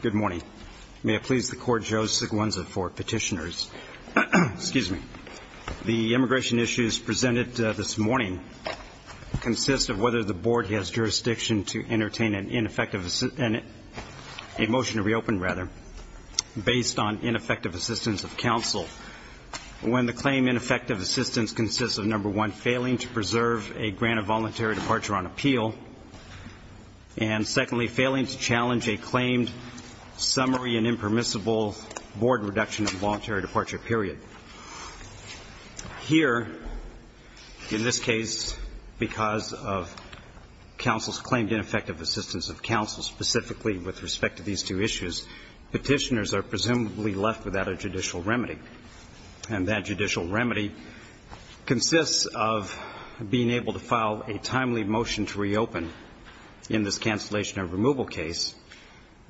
Good morning. May it please the Court, Joe Siguenza for Petitioners. The immigration issues presented this morning consist of whether the Board has jurisdiction to entertain an amendment, a motion to reopen rather, based on ineffective assistance of counsel when the claim ineffective assistance consists of, number one, failing to preserve a grant of voluntary departure on appeal, and secondly, failing to challenge a claimed summary and impermissible Board reduction of voluntary departure period. Here, in this case, because of counsel's claimed ineffective assistance of counsel specifically with respect to these two issues, Petitioners are presumably left without a judicial remedy, and that judicial remedy consists of being able to file a timely motion to reopen in this cancellation of removal case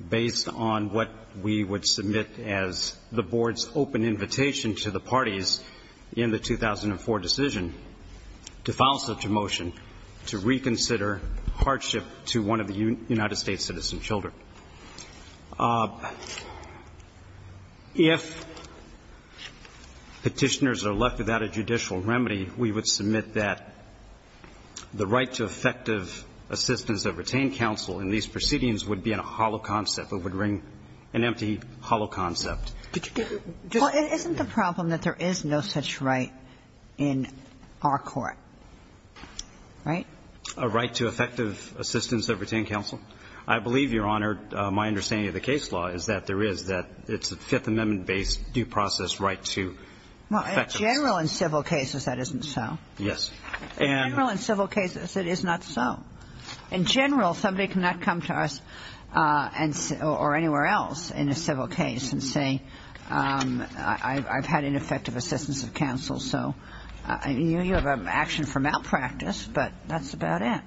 based on what we would submit as the Board's open invitation to the parties in favor of the 2004 decision to file such a motion to reconsider hardship to one of the United States' citizen children. If Petitioners are left without a judicial remedy, we would submit that the right to effective assistance of retained counsel in these proceedings would be a hollow concept. It would bring an empty, hollow concept. Did you get me? Well, isn't the problem that there is no such right in our court, right? A right to effective assistance of retained counsel? I believe, Your Honor, my understanding of the case law is that there is, that it's a Fifth Amendment-based due process right to effective assistance. Well, in general, in civil cases, that isn't so. Yes. In general, in civil cases, it is not so. In general, somebody cannot come to us and or anywhere else in a civil case and say, I've had ineffective assistance of counsel. So you have an action for malpractice, but that's about it.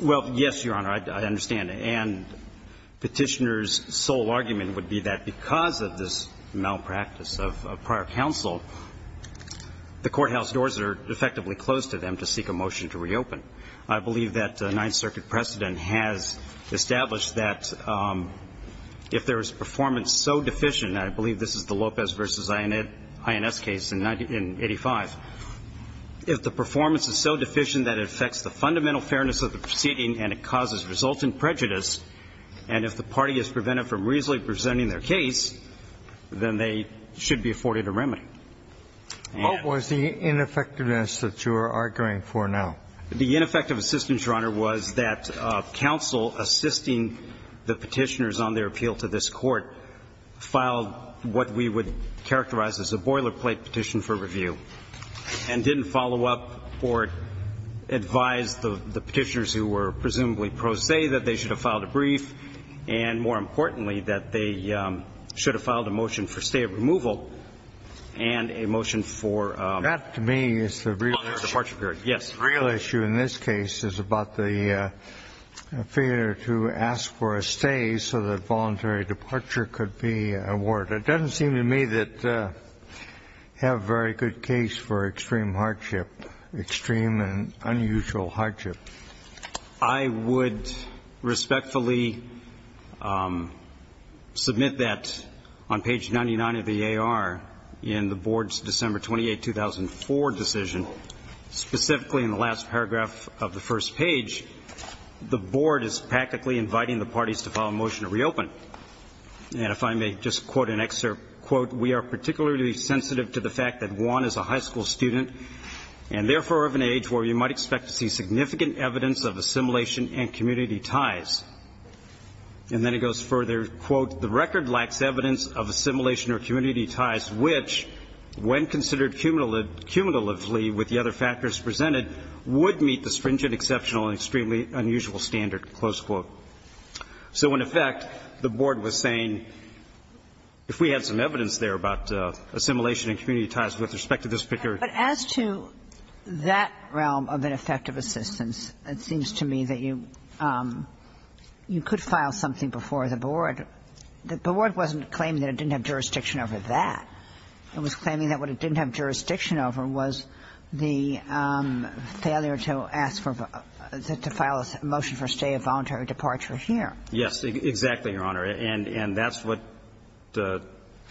Well, yes, Your Honor, I understand. And Petitioners' sole argument would be that because of this malpractice of prior counsel, the courthouse doors are effectively closed to them to seek a motion to reopen. I believe that the Ninth Circuit precedent has established that if there is performance so deficient, and I believe this is the Lopez v. Ins. case in 1985, if the performance is so deficient that it affects the fundamental fairness of the proceeding and it causes resultant prejudice, and if the party is prevented from reasonably presenting their case, then they should be afforded a remedy. What was the ineffectiveness that you are arguing for now? The ineffective assistance, Your Honor, was that counsel assisting the Petitioners on their appeal to this Court filed what we would characterize as a boilerplate petition for review, and didn't follow up or advise the Petitioners, who were presumably pro se, that they should have filed a brief, and, more importantly, that they should have filed a motion for stay of removal and a motion for ---- That, to me, is the real question. The real issue in this case is about the failure to ask for a stay so that voluntary departure could be awarded. It doesn't seem to me that you have a very good case for extreme hardship, extreme and unusual hardship. I would respectfully submit that on page 99 of the A.R. in the Board's December 28, 2004, decision, specifically in the last paragraph of the first page, the Board is practically inviting the parties to file a motion to reopen, and if I may just quote an excerpt, quote, we are particularly sensitive to the fact that Juan is a high school student and, therefore, of an age where you might expect to see significant evidence of assimilation and community ties. And then it goes further, quote, the record lacks evidence of assimilation or community ties, which, when considered cumulatively with the other factors presented, would meet the stringent, exceptional and extremely unusual standard, close quote. So in effect, the Board was saying, if we had some evidence there about assimilation and community ties with respect to this figure ---- But as to that realm of ineffective assistance, it seems to me that you could file something before the Board. The Board wasn't claiming that it didn't have jurisdiction over that. It was claiming that what it didn't have jurisdiction over was the failure to ask for the ---- to file a motion for stay of voluntary departure here. Yes, exactly, Your Honor. And that's what the ----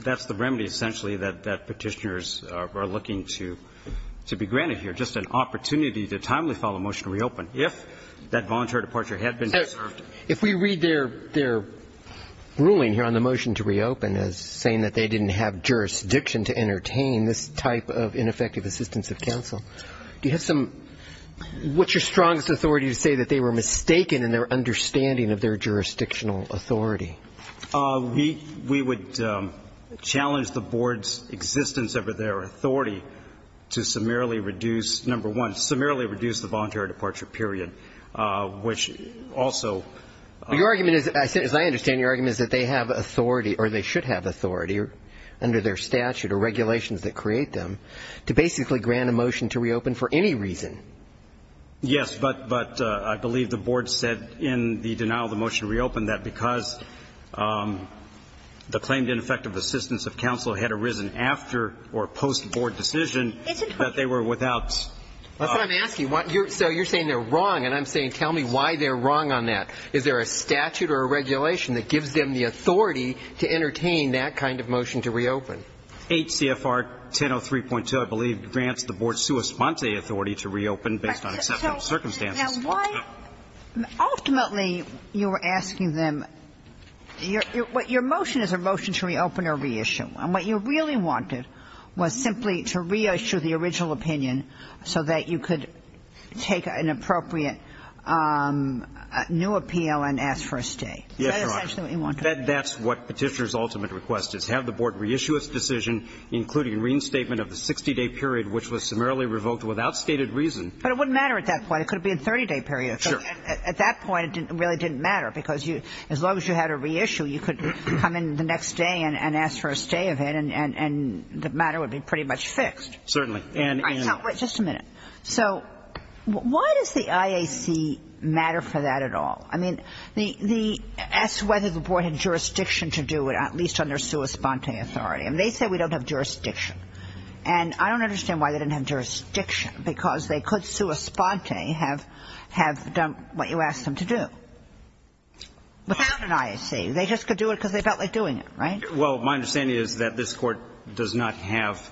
that's the remedy, essentially, that Petitioners are looking to be granted here, just an opportunity to timely file a motion to reopen if that voluntary departure had been preserved. If we read their ruling here on the motion to reopen as saying that they didn't have jurisdiction to entertain this type of ineffective assistance of counsel, do you have some ---- what's your strongest authority to say that they were mistaken in their understanding of their jurisdictional authority? We would challenge the Board's existence over their authority to summarily reduce, number one, summarily reduce the voluntary departure period, which also Your argument is, as I understand, your argument is that they have authority or they should have authority under their statute or regulations that create them to basically grant a motion to reopen for any reason. Yes, but I believe the Board said in the denial of the motion to reopen that because the claimed ineffective assistance of counsel had arisen after or post-Board decision that they were without ---- That's what I'm asking. So you're saying they're wrong, and I'm saying tell me why they're wrong on that. Is there a statute or a regulation that gives them the authority to entertain that kind of motion to reopen? HCFR 1003.2, I believe, grants the Board's sua sponte authority to reopen based on acceptable circumstances. Now, why ---- ultimately, you're asking them ---- your motion is a motion to reopen or reissue. And what you really wanted was simply to reissue the original opinion so that you could take an appropriate new appeal and ask for a stay. Is that essentially what you wanted? That's what Petitioner's ultimate request is, have the Board reissue its decision, including reinstatement of the 60-day period, which was summarily revoked without stated reason. But it wouldn't matter at that point. It could have been a 30-day period. Sure. At that point, it really didn't matter, because as long as you had a reissue, you could come in the next day and ask for a stay of it, and the matter would be pretty much fixed. Certainly. And ---- But wait just a minute. So why does the IAC matter for that at all? I mean, the ---- asked whether the Board had jurisdiction to do it, at least on their sua sponte authority. I mean, they say we don't have jurisdiction. And I don't understand why they didn't have jurisdiction, because they could sua sponte have done what you asked them to do. Without an IAC, they just could do it because they felt like doing it, right? Well, my understanding is that this Court does not have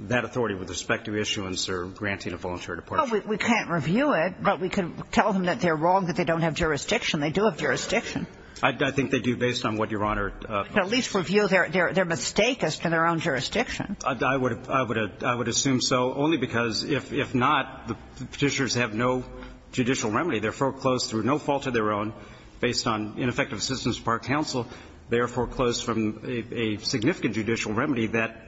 that authority with respect to issuance or granting a voluntary departure. Well, we can't review it, but we can tell them that they're wrong, that they don't have jurisdiction. They do have jurisdiction. I think they do, based on what Your Honor ---- At least review their mistake as to their own jurisdiction. I would assume so, only because if not, the Petitioners have no judicial remedy. They're foreclosed through no fault of their own, based on ineffective assistance to Park Council. They are foreclosed from a significant judicial remedy that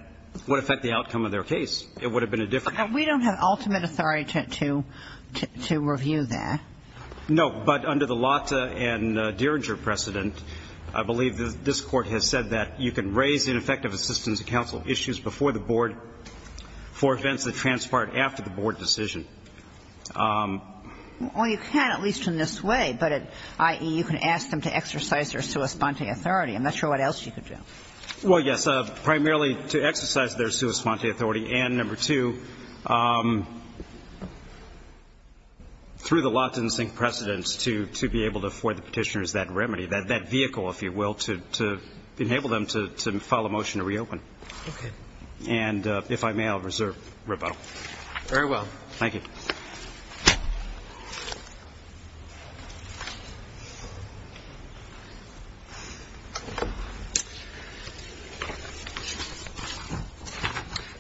would affect the outcome of their case. It would have been a different ---- We don't have ultimate authority to review that. No. But under the Lata and Dieringer precedent, I believe this Court has said that you can raise ineffective assistance to counsel issues before the board for events that transpire after the board decision. Well, you can, at least in this way, but at IE, you can ask them to exercise their sua sponte authority. I'm not sure what else you could do. Well, yes. Primarily to exercise their sua sponte authority, and number two, through the Lata and Dieringer precedents, to be able to afford the Petitioners that remedy, that vehicle, if you will, to enable them to file a motion to reopen. Okay. And if I may, I'll reserve rebuttal. Very well. Thank you.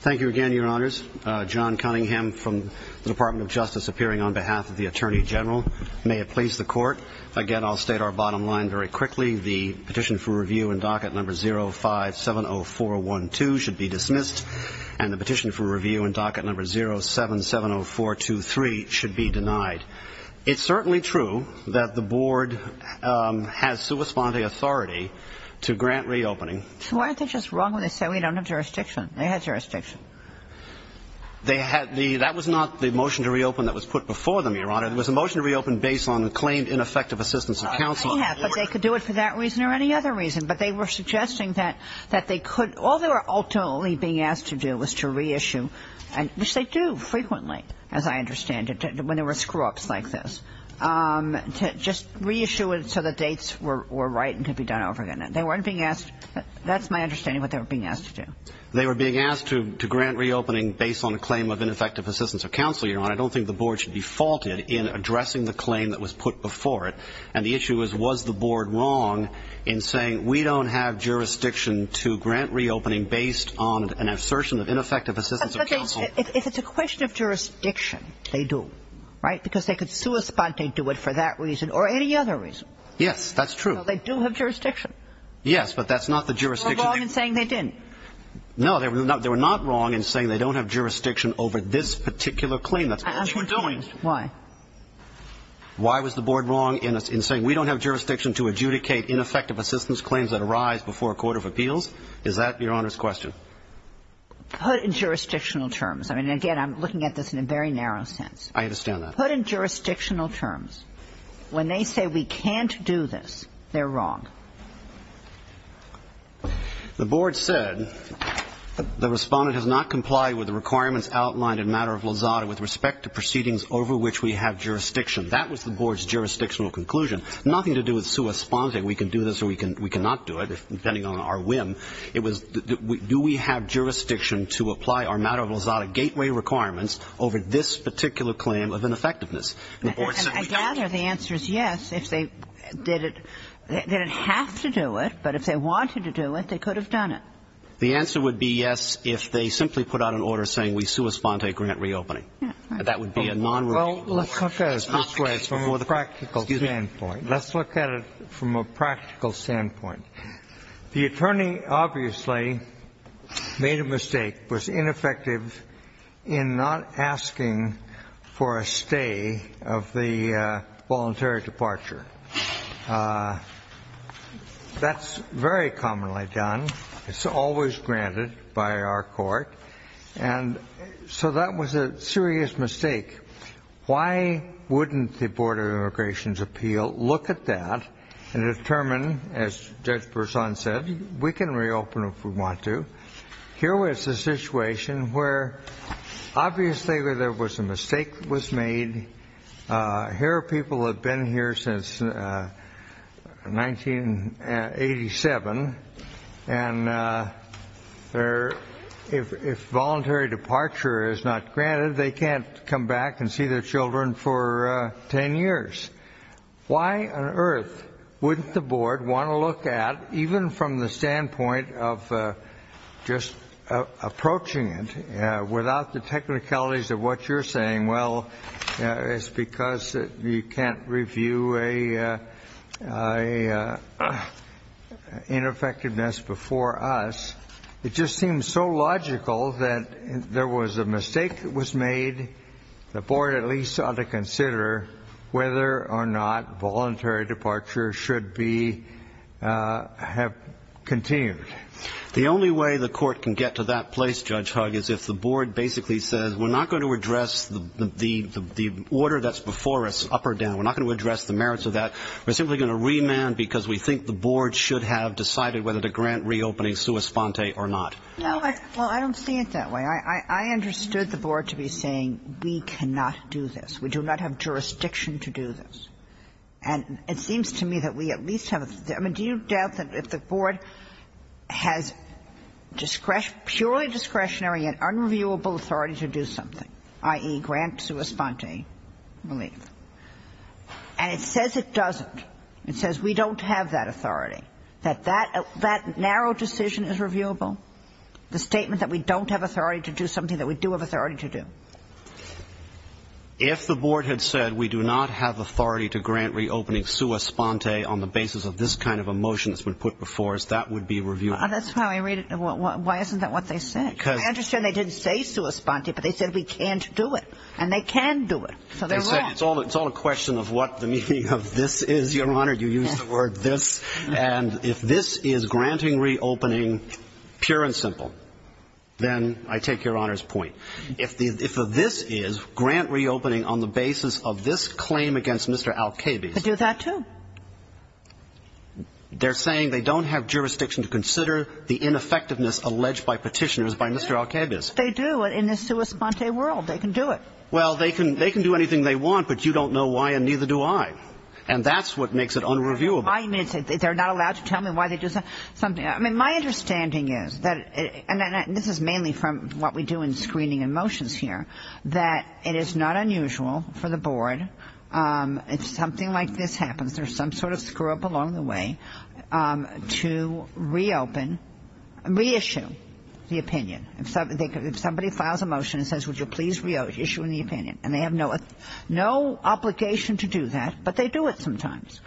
Thank you again, Your Honors. John Cunningham from the Department of Justice appearing on behalf of the Attorney General. May it please the Court. Again, I'll state our bottom line very quickly. The petition for review in docket number 0570412 should be dismissed, and the motion to reopen should be denied. It's certainly true that the board has sua sponte authority to grant reopening. So why aren't they just wrong when they say we don't have jurisdiction? They had jurisdiction. They had the, that was not the motion to reopen that was put before them, Your Honor. It was a motion to reopen based on the claimed ineffective assistance of counsel. I have, but they could do it for that reason or any other reason. But they were suggesting that they could, all they were ultimately being asked to do was to reissue, which they do frequently, as I understand it. When there were screw ups like this, to just reissue it so the dates were right and could be done over again. And they weren't being asked, that's my understanding of what they were being asked to do. They were being asked to grant reopening based on a claim of ineffective assistance of counsel, Your Honor. I don't think the board should be faulted in addressing the claim that was put before it. And the issue is, was the board wrong in saying we don't have jurisdiction to grant reopening based on an assertion of ineffective assistance of counsel? If it's a question of jurisdiction, they do. Right? Because they could do it for that reason or any other reason. Yes, that's true. They do have jurisdiction. Yes, but that's not the jurisdiction. They were wrong in saying they didn't. No, they were not. They were not wrong in saying they don't have jurisdiction over this particular claim. That's what you were doing. Why? Why was the board wrong in saying we don't have jurisdiction to adjudicate ineffective assistance claims that arise before a court of appeals? Is that Your Honor's question? Put in jurisdictional terms. I mean, again, I'm looking at this in a very narrow sense. I understand that. Put in jurisdictional terms. When they say we can't do this, they're wrong. The board said the respondent has not complied with the requirements outlined in matter of Lozada with respect to proceedings over which we have jurisdiction. That was the board's jurisdictional conclusion. Nothing to do with sui sponte. We can do this or we can, we cannot do it depending on our whim. It was, do we have jurisdiction to apply our matter of Lozada gateway requirements over this particular claim of ineffectiveness? And the board said we don't. I gather the answer is yes if they did it. They didn't have to do it, but if they wanted to do it, they could have done it. The answer would be yes if they simply put out an order saying we sui sponte grant reopening. That would be a non-repeat order. Well, let's look at it from a practical standpoint. Let's look at it from a practical standpoint. The attorney obviously made a mistake, was ineffective in not asking for a stay of the voluntary departure. That's very commonly done. It's always granted by our court. And so that was a serious mistake. Why wouldn't the Board of Immigration's appeal look at that and determine, as Judge Berzon said, we can reopen if we want to. Here was a situation where obviously there was a mistake was made. Here are people have been here since 1987. And if voluntary departure is not granted, they can't come back and see their children for 10 years. Why on earth wouldn't the board want to look at, even from the standpoint of just approaching it without the technicalities of what you're saying? Well, it's because you can't review a ineffectiveness before us. It just seems so logical that there was a mistake that was made. The board at least ought to consider whether or not voluntary departure should be have continued. The only way the court can get to that place, Judge Hugg, is if the board basically says, we're not going to address the order that's before us, up or down. We're not going to address the merits of that. We're simply going to remand because we think the board should have decided whether to grant reopening sua sponte or not. No, well, I don't see it that way. I understood the board to be saying we cannot do this. We do not have jurisdiction to do this. And it seems to me that we at least have a I mean, do you doubt that if the board has discretion, purely discretionary and unreviewable authority to do something, i.e., grant sua sponte relief. And it says it doesn't. It says we don't have that authority, that that that narrow decision is reviewable. The statement that we don't have authority to do something that we do have authority to do. If the board had said we do not have authority to grant reopening sua sponte on the basis of this kind of a motion that's been put before us, that would be reviewed. That's how I read it. Why isn't that what they said? Because I understand they didn't say sua sponte, but they said we can't do it and they can do it. So they're right. It's all it's all a question of what the meaning of this is. Your Honor, you use the word this. And if this is granting reopening pure and simple, then I take your honor's point. If the if this is grant reopening on the basis of this claim against Mr. Al-Kabi. They do that, too. They're saying they don't have jurisdiction to consider the ineffectiveness alleged by petitioners by Mr. Al-Kabi. They do it in the sua sponte world. They can do it. Well, they can they can do anything they want, but you don't know why. And neither do I. And that's what makes it unreviewable. I mean, they're not allowed to tell me why they do something. I mean, my understanding is that this is mainly from what we do in screening and motions here, that it is not unusual for the board. It's something like this happens. There's some sort of screw up along the way to reopen and reissue the opinion. And so if somebody files a motion and says, would you please reissue the opinion? And they have no no obligation to do that, but they do it sometimes.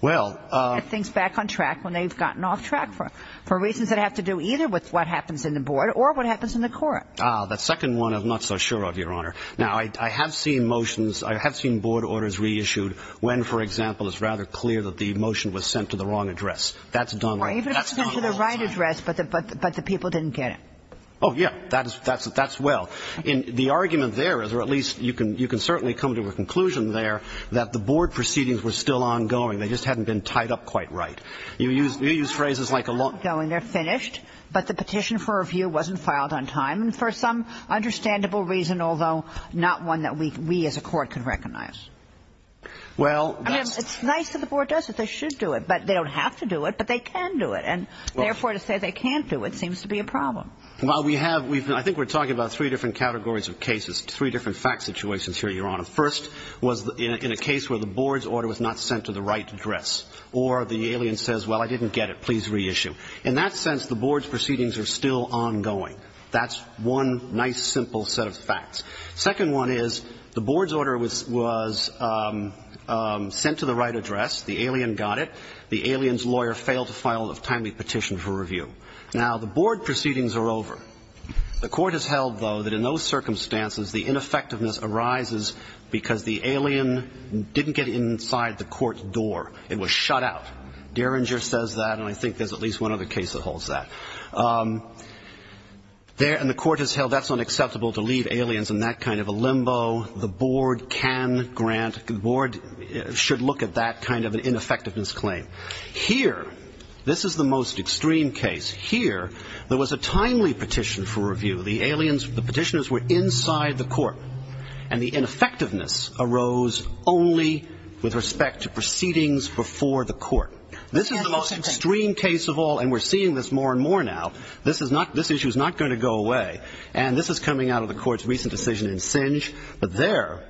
Well, things back on track when they've gotten off track for for reasons that have to do either with what happens in the board or what happens in the court. The second one, I'm not so sure of your honor. Now, I have seen motions. I have seen board orders reissued when, for example, it's rather clear that the motion was sent to the wrong address. That's done right. That's the right address. But but but the people didn't get it. Oh, yeah, that's that's that's well in the argument there is or at least you can you can certainly come to a conclusion there that the board proceedings were still ongoing. They just hadn't been tied up quite right. You use you use phrases like a long going. They're finished. But the petition for review wasn't filed on time. For some understandable reason, although not one that we as a court can recognize. Well, it's nice that the board does it. They should do it, but they don't have to do it, but they can do it. And therefore, to say they can't do it seems to be a problem. Well, we have we've I think we're talking about three different categories of cases, three different fact situations here. Your honor first was in a case where the board's order was not sent to the right address or the alien says, well, I didn't get it. Please reissue. In that sense, the board's proceedings are still ongoing. That's one nice, simple set of facts. Second one is the board's order was was sent to the right address. The alien got it. The alien's lawyer failed to file a timely petition for review. Now, the board proceedings are over. The court has held, though, that in those circumstances, the ineffectiveness arises because the alien didn't get inside the court door. It was shut out. Derringer says that. And I think there's at least one other case that holds that. There and the court has held that's unacceptable to leave aliens in that kind of a limbo. The board can grant the board should look at that kind of an ineffectiveness claim here. This is the most extreme case here. There was a timely petition for review. The aliens, the petitioners were inside the court and the ineffectiveness arose only with respect to proceedings before the court. This is the most extreme case of all. And we're seeing this more and more now. This is not this issue is not going to go away. And this is coming out of the court's recent decision in Singe. But there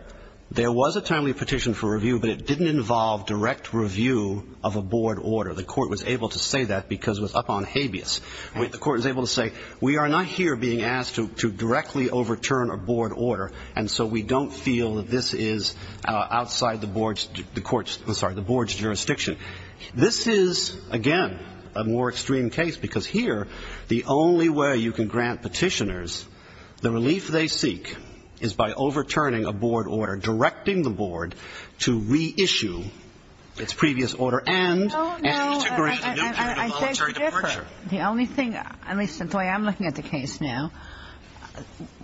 there was a timely petition for review, but it didn't involve direct review of a board order. The court was able to say that because it was up on habeas. The court was able to say, we are not here being asked to directly overturn a board order. And so we don't feel that this is outside the board's the court's sorry, the board's jurisdiction. This is, again, a more extreme case, because here, the only way you can grant petitioners the relief they seek is by overturning a board order, directing the board to reissue its previous order. And I think the only thing I'm looking at the case now,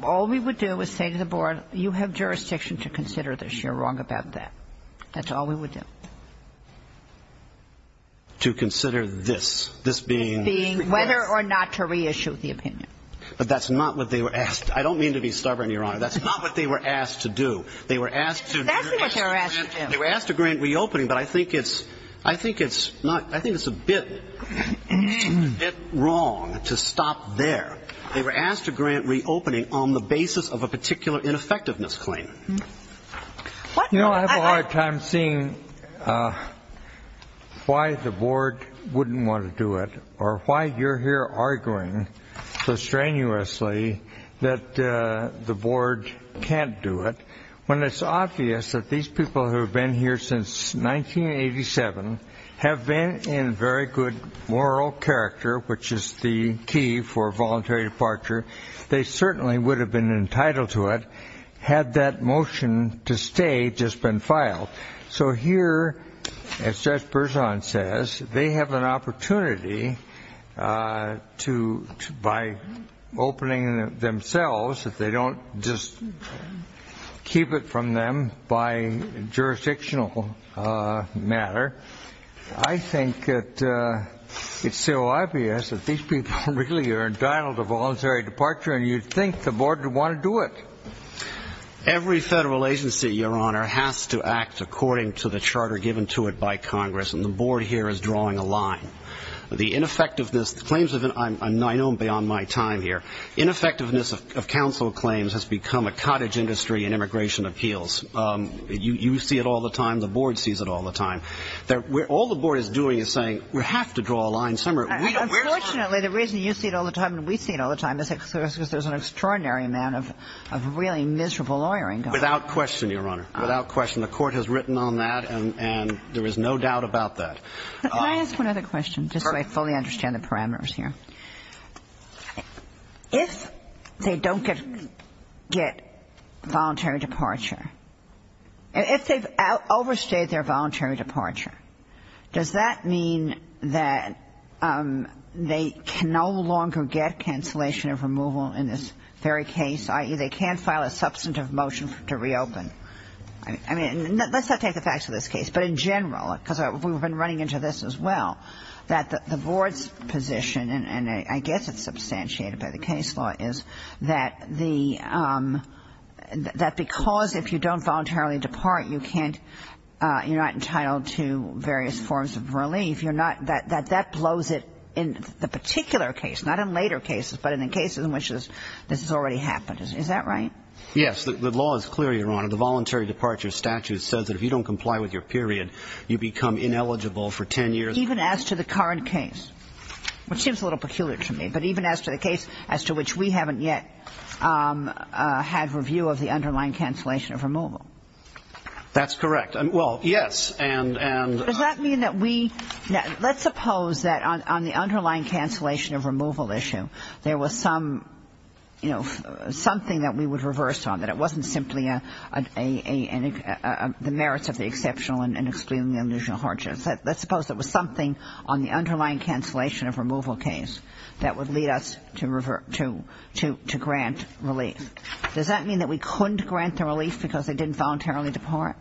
all we would do is say to the board, you have jurisdiction to consider this. You're wrong about that. That's all we would do. To consider this, this being whether or not to reissue the opinion, but that's not what they were asked. I don't mean to be stubborn, Your Honor. That's not what they were asked to do. They were asked to. They were asked to grant reopening. But I think it's I think it's not I think it's a bit wrong to stop there. They were asked to grant reopening on the basis of a particular ineffectiveness claim. You know, I have a hard time seeing why the board wouldn't want to do it or why you're here arguing so strenuously that the board can't do it. When it's obvious that these people who have been here since 1987 have been in very good moral character, which is the key for voluntary departure. They certainly would have been entitled to it. Had that motion to stay just been filed. So here, as Judge Berzon says, they have an opportunity to by opening themselves if they don't just keep it from them by jurisdictional matter. I think it's so obvious that these people really are entitled to voluntary departure and you'd think the board would want to do it. Every federal agency, Your Honor, has to act according to the charter given to it by Congress. And the board here is drawing a line. The ineffectiveness claims I know beyond my time here, ineffectiveness of counsel claims has become a cottage industry in immigration appeals. You see it all the time. The board sees it all the time. All the board is doing is saying we have to draw a line somewhere. Unfortunately, the reason you see it all the time and we see it all the time is because there's an extraordinary amount of really miserable lawyering. Without question, Your Honor. Without question. The court has written on that and there is no doubt about that. Can I ask one other question just so I fully understand the parameters here? If they don't get voluntary departure, if they've overstayed their voluntary departure, does that mean that they can no longer get cancellation of removal in this very case, i.e., they can't file a substantive motion to reopen? I mean, let's not take the facts of this case, but in general, because we've been running into this as well, that the board's position, and I guess it's substantiated by the case law, is that the – that because if you don't voluntarily depart, you can't – you're not entitled to various forms of relief, you're not – that that blows it in the particular case, not in later cases, but in the cases in which this has already happened. Is that right? Yes. The law is clear, Your Honor. The voluntary departure statute says that if you don't comply with your period, you become ineligible for 10 years. Even as to the current case, which seems a little peculiar to me, but even as to the case as to which we haven't yet had review of the underlying cancellation of removal? That's correct. Well, yes. Does that mean that we – now, let's suppose that on the underlying cancellation of removal issue, there was some – you know, something that we would reverse on, that it wasn't simply a – the merits of the exceptional and excluding the illusion of hardships. Let's suppose there was something on the underlying cancellation of removal case that would lead us to grant relief. Does that mean that we couldn't grant the relief because they didn't voluntarily depart?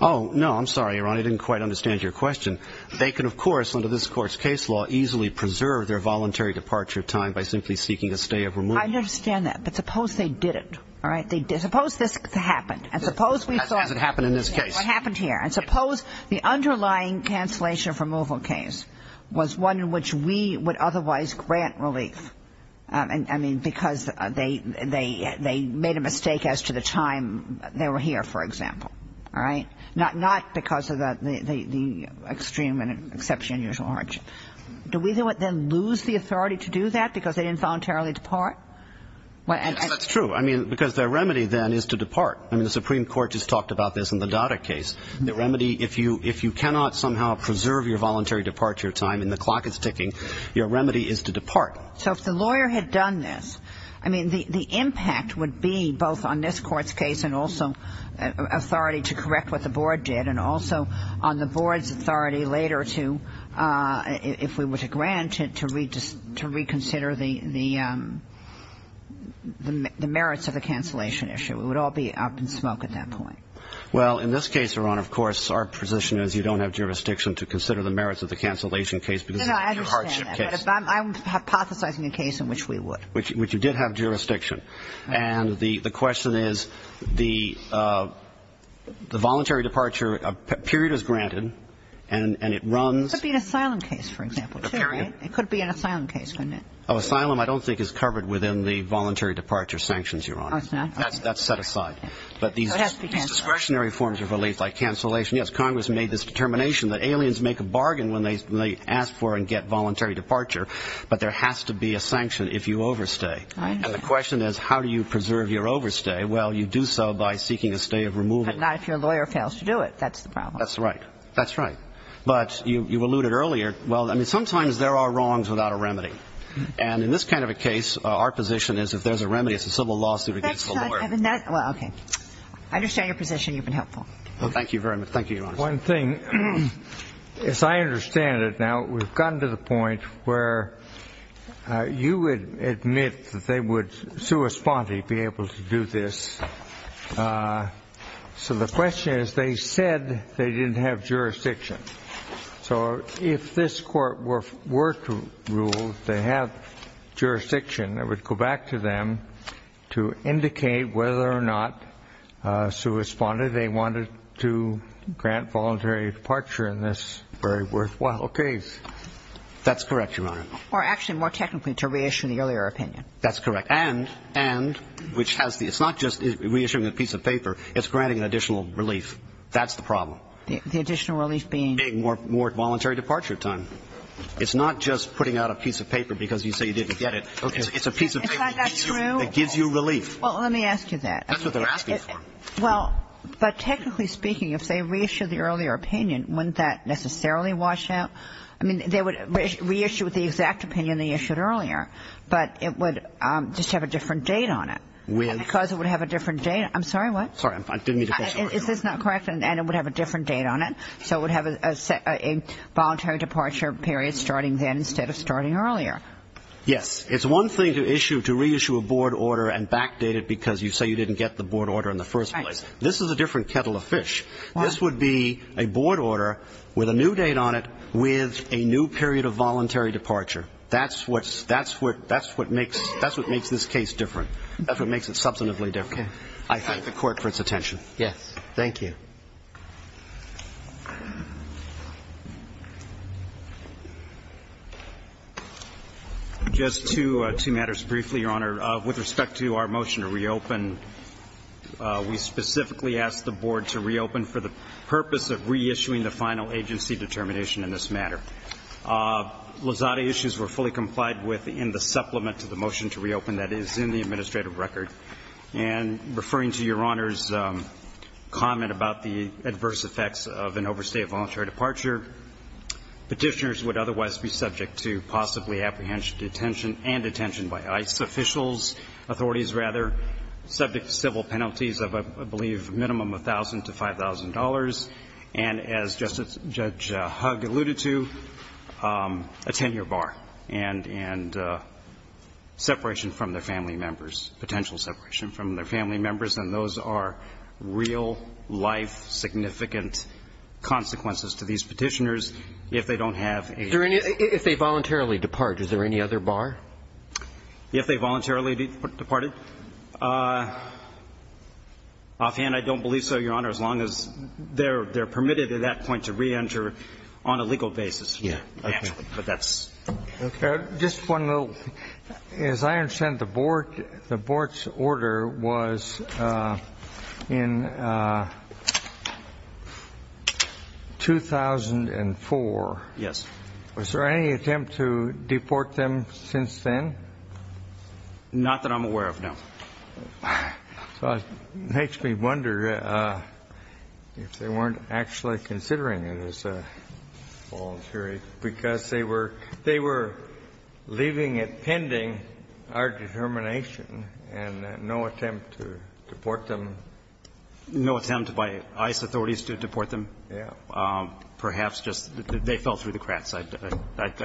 Oh, no. I'm sorry, Your Honor. I didn't quite understand your question. They can, of course, under this Court's case law, easily preserve their voluntary departure time by simply seeking a stay of removal. I understand that. But suppose they didn't, all right? They – suppose this happened. And suppose we thought – Hasn't happened in this case. What happened here? And suppose the underlying cancellation of removal case was one in which we would otherwise grant relief. I mean, because they made a mistake as to the time they were here, for example. All right? Not because of the extreme and exception of unusual hardship. Do we then lose the authority to do that because they didn't voluntarily depart? That's true. I mean, because their remedy then is to depart. I mean, the Supreme Court just talked about this in the Dada case. The remedy, if you cannot somehow preserve your voluntary departure time and the clock is ticking, your remedy is to depart. So if the lawyer had done this, I mean, the impact would be both on this Court's case and also authority to correct what the Board did, and also on the Board's authority later to, if we were to grant it, to reconsider the merits of the cancellation issue. We would all be up in smoke at that point. Well, in this case, Your Honor, of course, our position is you don't have jurisdiction to consider the merits of the cancellation case because it's a hardship case. I'm hypothesizing a case in which we would. Which you did have jurisdiction. And the question is, the voluntary departure period is granted, and it runs... It could be an asylum case, for example, too, right? It could be an asylum case, couldn't it? Oh, asylum I don't think is covered within the voluntary departure sanctions, Your Honor. Oh, it's not? That's set aside. But these discretionary forms of relief, like cancellation... Yes, Congress made this determination that aliens make a bargain when they ask for and get voluntary departure, but there has to be a sanction if you overstay. And the question is, how do you preserve your overstay? Well, you do so by seeking a stay of removal. But not if your lawyer fails to do it. That's the problem. That's right. That's right. But you've alluded earlier, well, I mean, sometimes there are wrongs without a remedy. And in this kind of a case, our position is if there's a remedy, it's a civil lawsuit against the lawyer. Well, okay. I understand your position. You've been helpful. Well, thank you very much. Thank you, Your Honor. One thing, as I understand it now, we've gotten to the point where you would admit that they would sui sponte be able to do this. So the question is, they said they didn't have jurisdiction. So if this Court were to rule they have jurisdiction, it would go back to them to issue a removal of a voluntary departure. Is that correct? That's correct, Your Honor. Or actually more technically, to reissue the earlier opinion. That's correct. And, which has the – it's not just reissuing a piece of paper. It's granting an additional relief. That's the problem. The additional relief being? Being more voluntary departure time. It's not just putting out a piece of paper because you say you didn't get it. It's a piece of paper. Is that not true? It gives you relief. Well, let me ask you that. That's what they're asking for. Well, but technically speaking, if they reissued the earlier opinion, wouldn't that necessarily wash out? I mean, they would reissue with the exact opinion they issued earlier, but it would just have a different date on it. And because it would have a different date – I'm sorry, what? Sorry, I didn't mean to question your authority. Is this not correct? And it would have a different date on it. So it would have a voluntary departure period starting then instead of starting earlier. Yes. It's one thing to issue – to reissue a board order and backdate it because you say you didn't get the board order in the first place. This is a different kettle of fish. This would be a board order with a new date on it with a new period of voluntary departure. That's what makes this case different. That's what makes it substantively different. Okay. I thank the Court for its attention. Yes. Thank you. Just two matters briefly, Your Honor. With respect to our motion to reopen, we specifically asked the board to reopen for the purpose of reissuing the final agency determination in this matter. Lozada issues were fully complied with in the supplement to the motion to reopen that is in the administrative record. And referring to Your Honor's comment about the adverse effects of an overstated voluntary departure, Petitioners would otherwise be subject to possibly apprehension and detention by ICE officials, authorities rather, subject to civil penalties of, I believe, a minimum of $1,000 to $5,000, and as Judge Hugg alluded to, a 10-year bar and separation from their family members, potential separation from their family members. And those are real-life significant consequences to these Petitioners if they don't have agency determination. If they voluntarily depart, is there any other bar? If they voluntarily departed. Offhand, I don't believe so, Your Honor, as long as they're permitted at that point to reenter on a legal basis. Yeah. Okay. But that's... Just one little, as I understand, the board's order was in 2004. Yes. Was there any attempt to deport them since then? Not that I'm aware of, no. So it makes me wonder if they weren't actually considering it as voluntary, because they were leaving it pending our determination and no attempt to deport them. No attempt by ICE authorities to deport them? Yeah. Perhaps just they fell through the cracks. I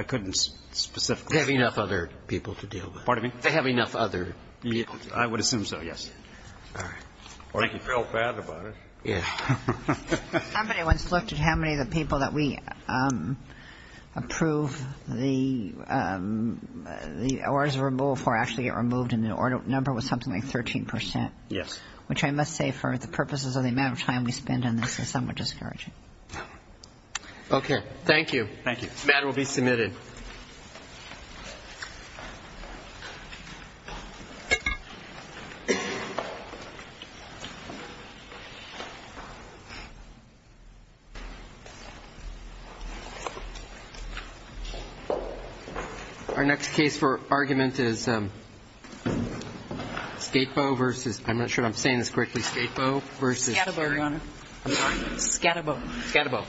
couldn't specifically... They have enough other people to deal with. Pardon me? They have enough other people to deal with. I would assume so, yes. All right. Or they felt bad about it. Yeah. Somebody once looked at how many of the people that we approve the orders removed for actually get removed, and the order number was something like 13 percent. Yes. Which I must say for the purposes of the amount of time we spend on this is somewhat discouraging. Okay. Thank you. Thank you. The matter will be submitted. Our next case for argument is Skatebo versus... I'm not sure if I'm saying this correctly. Skatebo versus... Skatebo, Your Honor. Skatebo. Skatebo. Skatebo.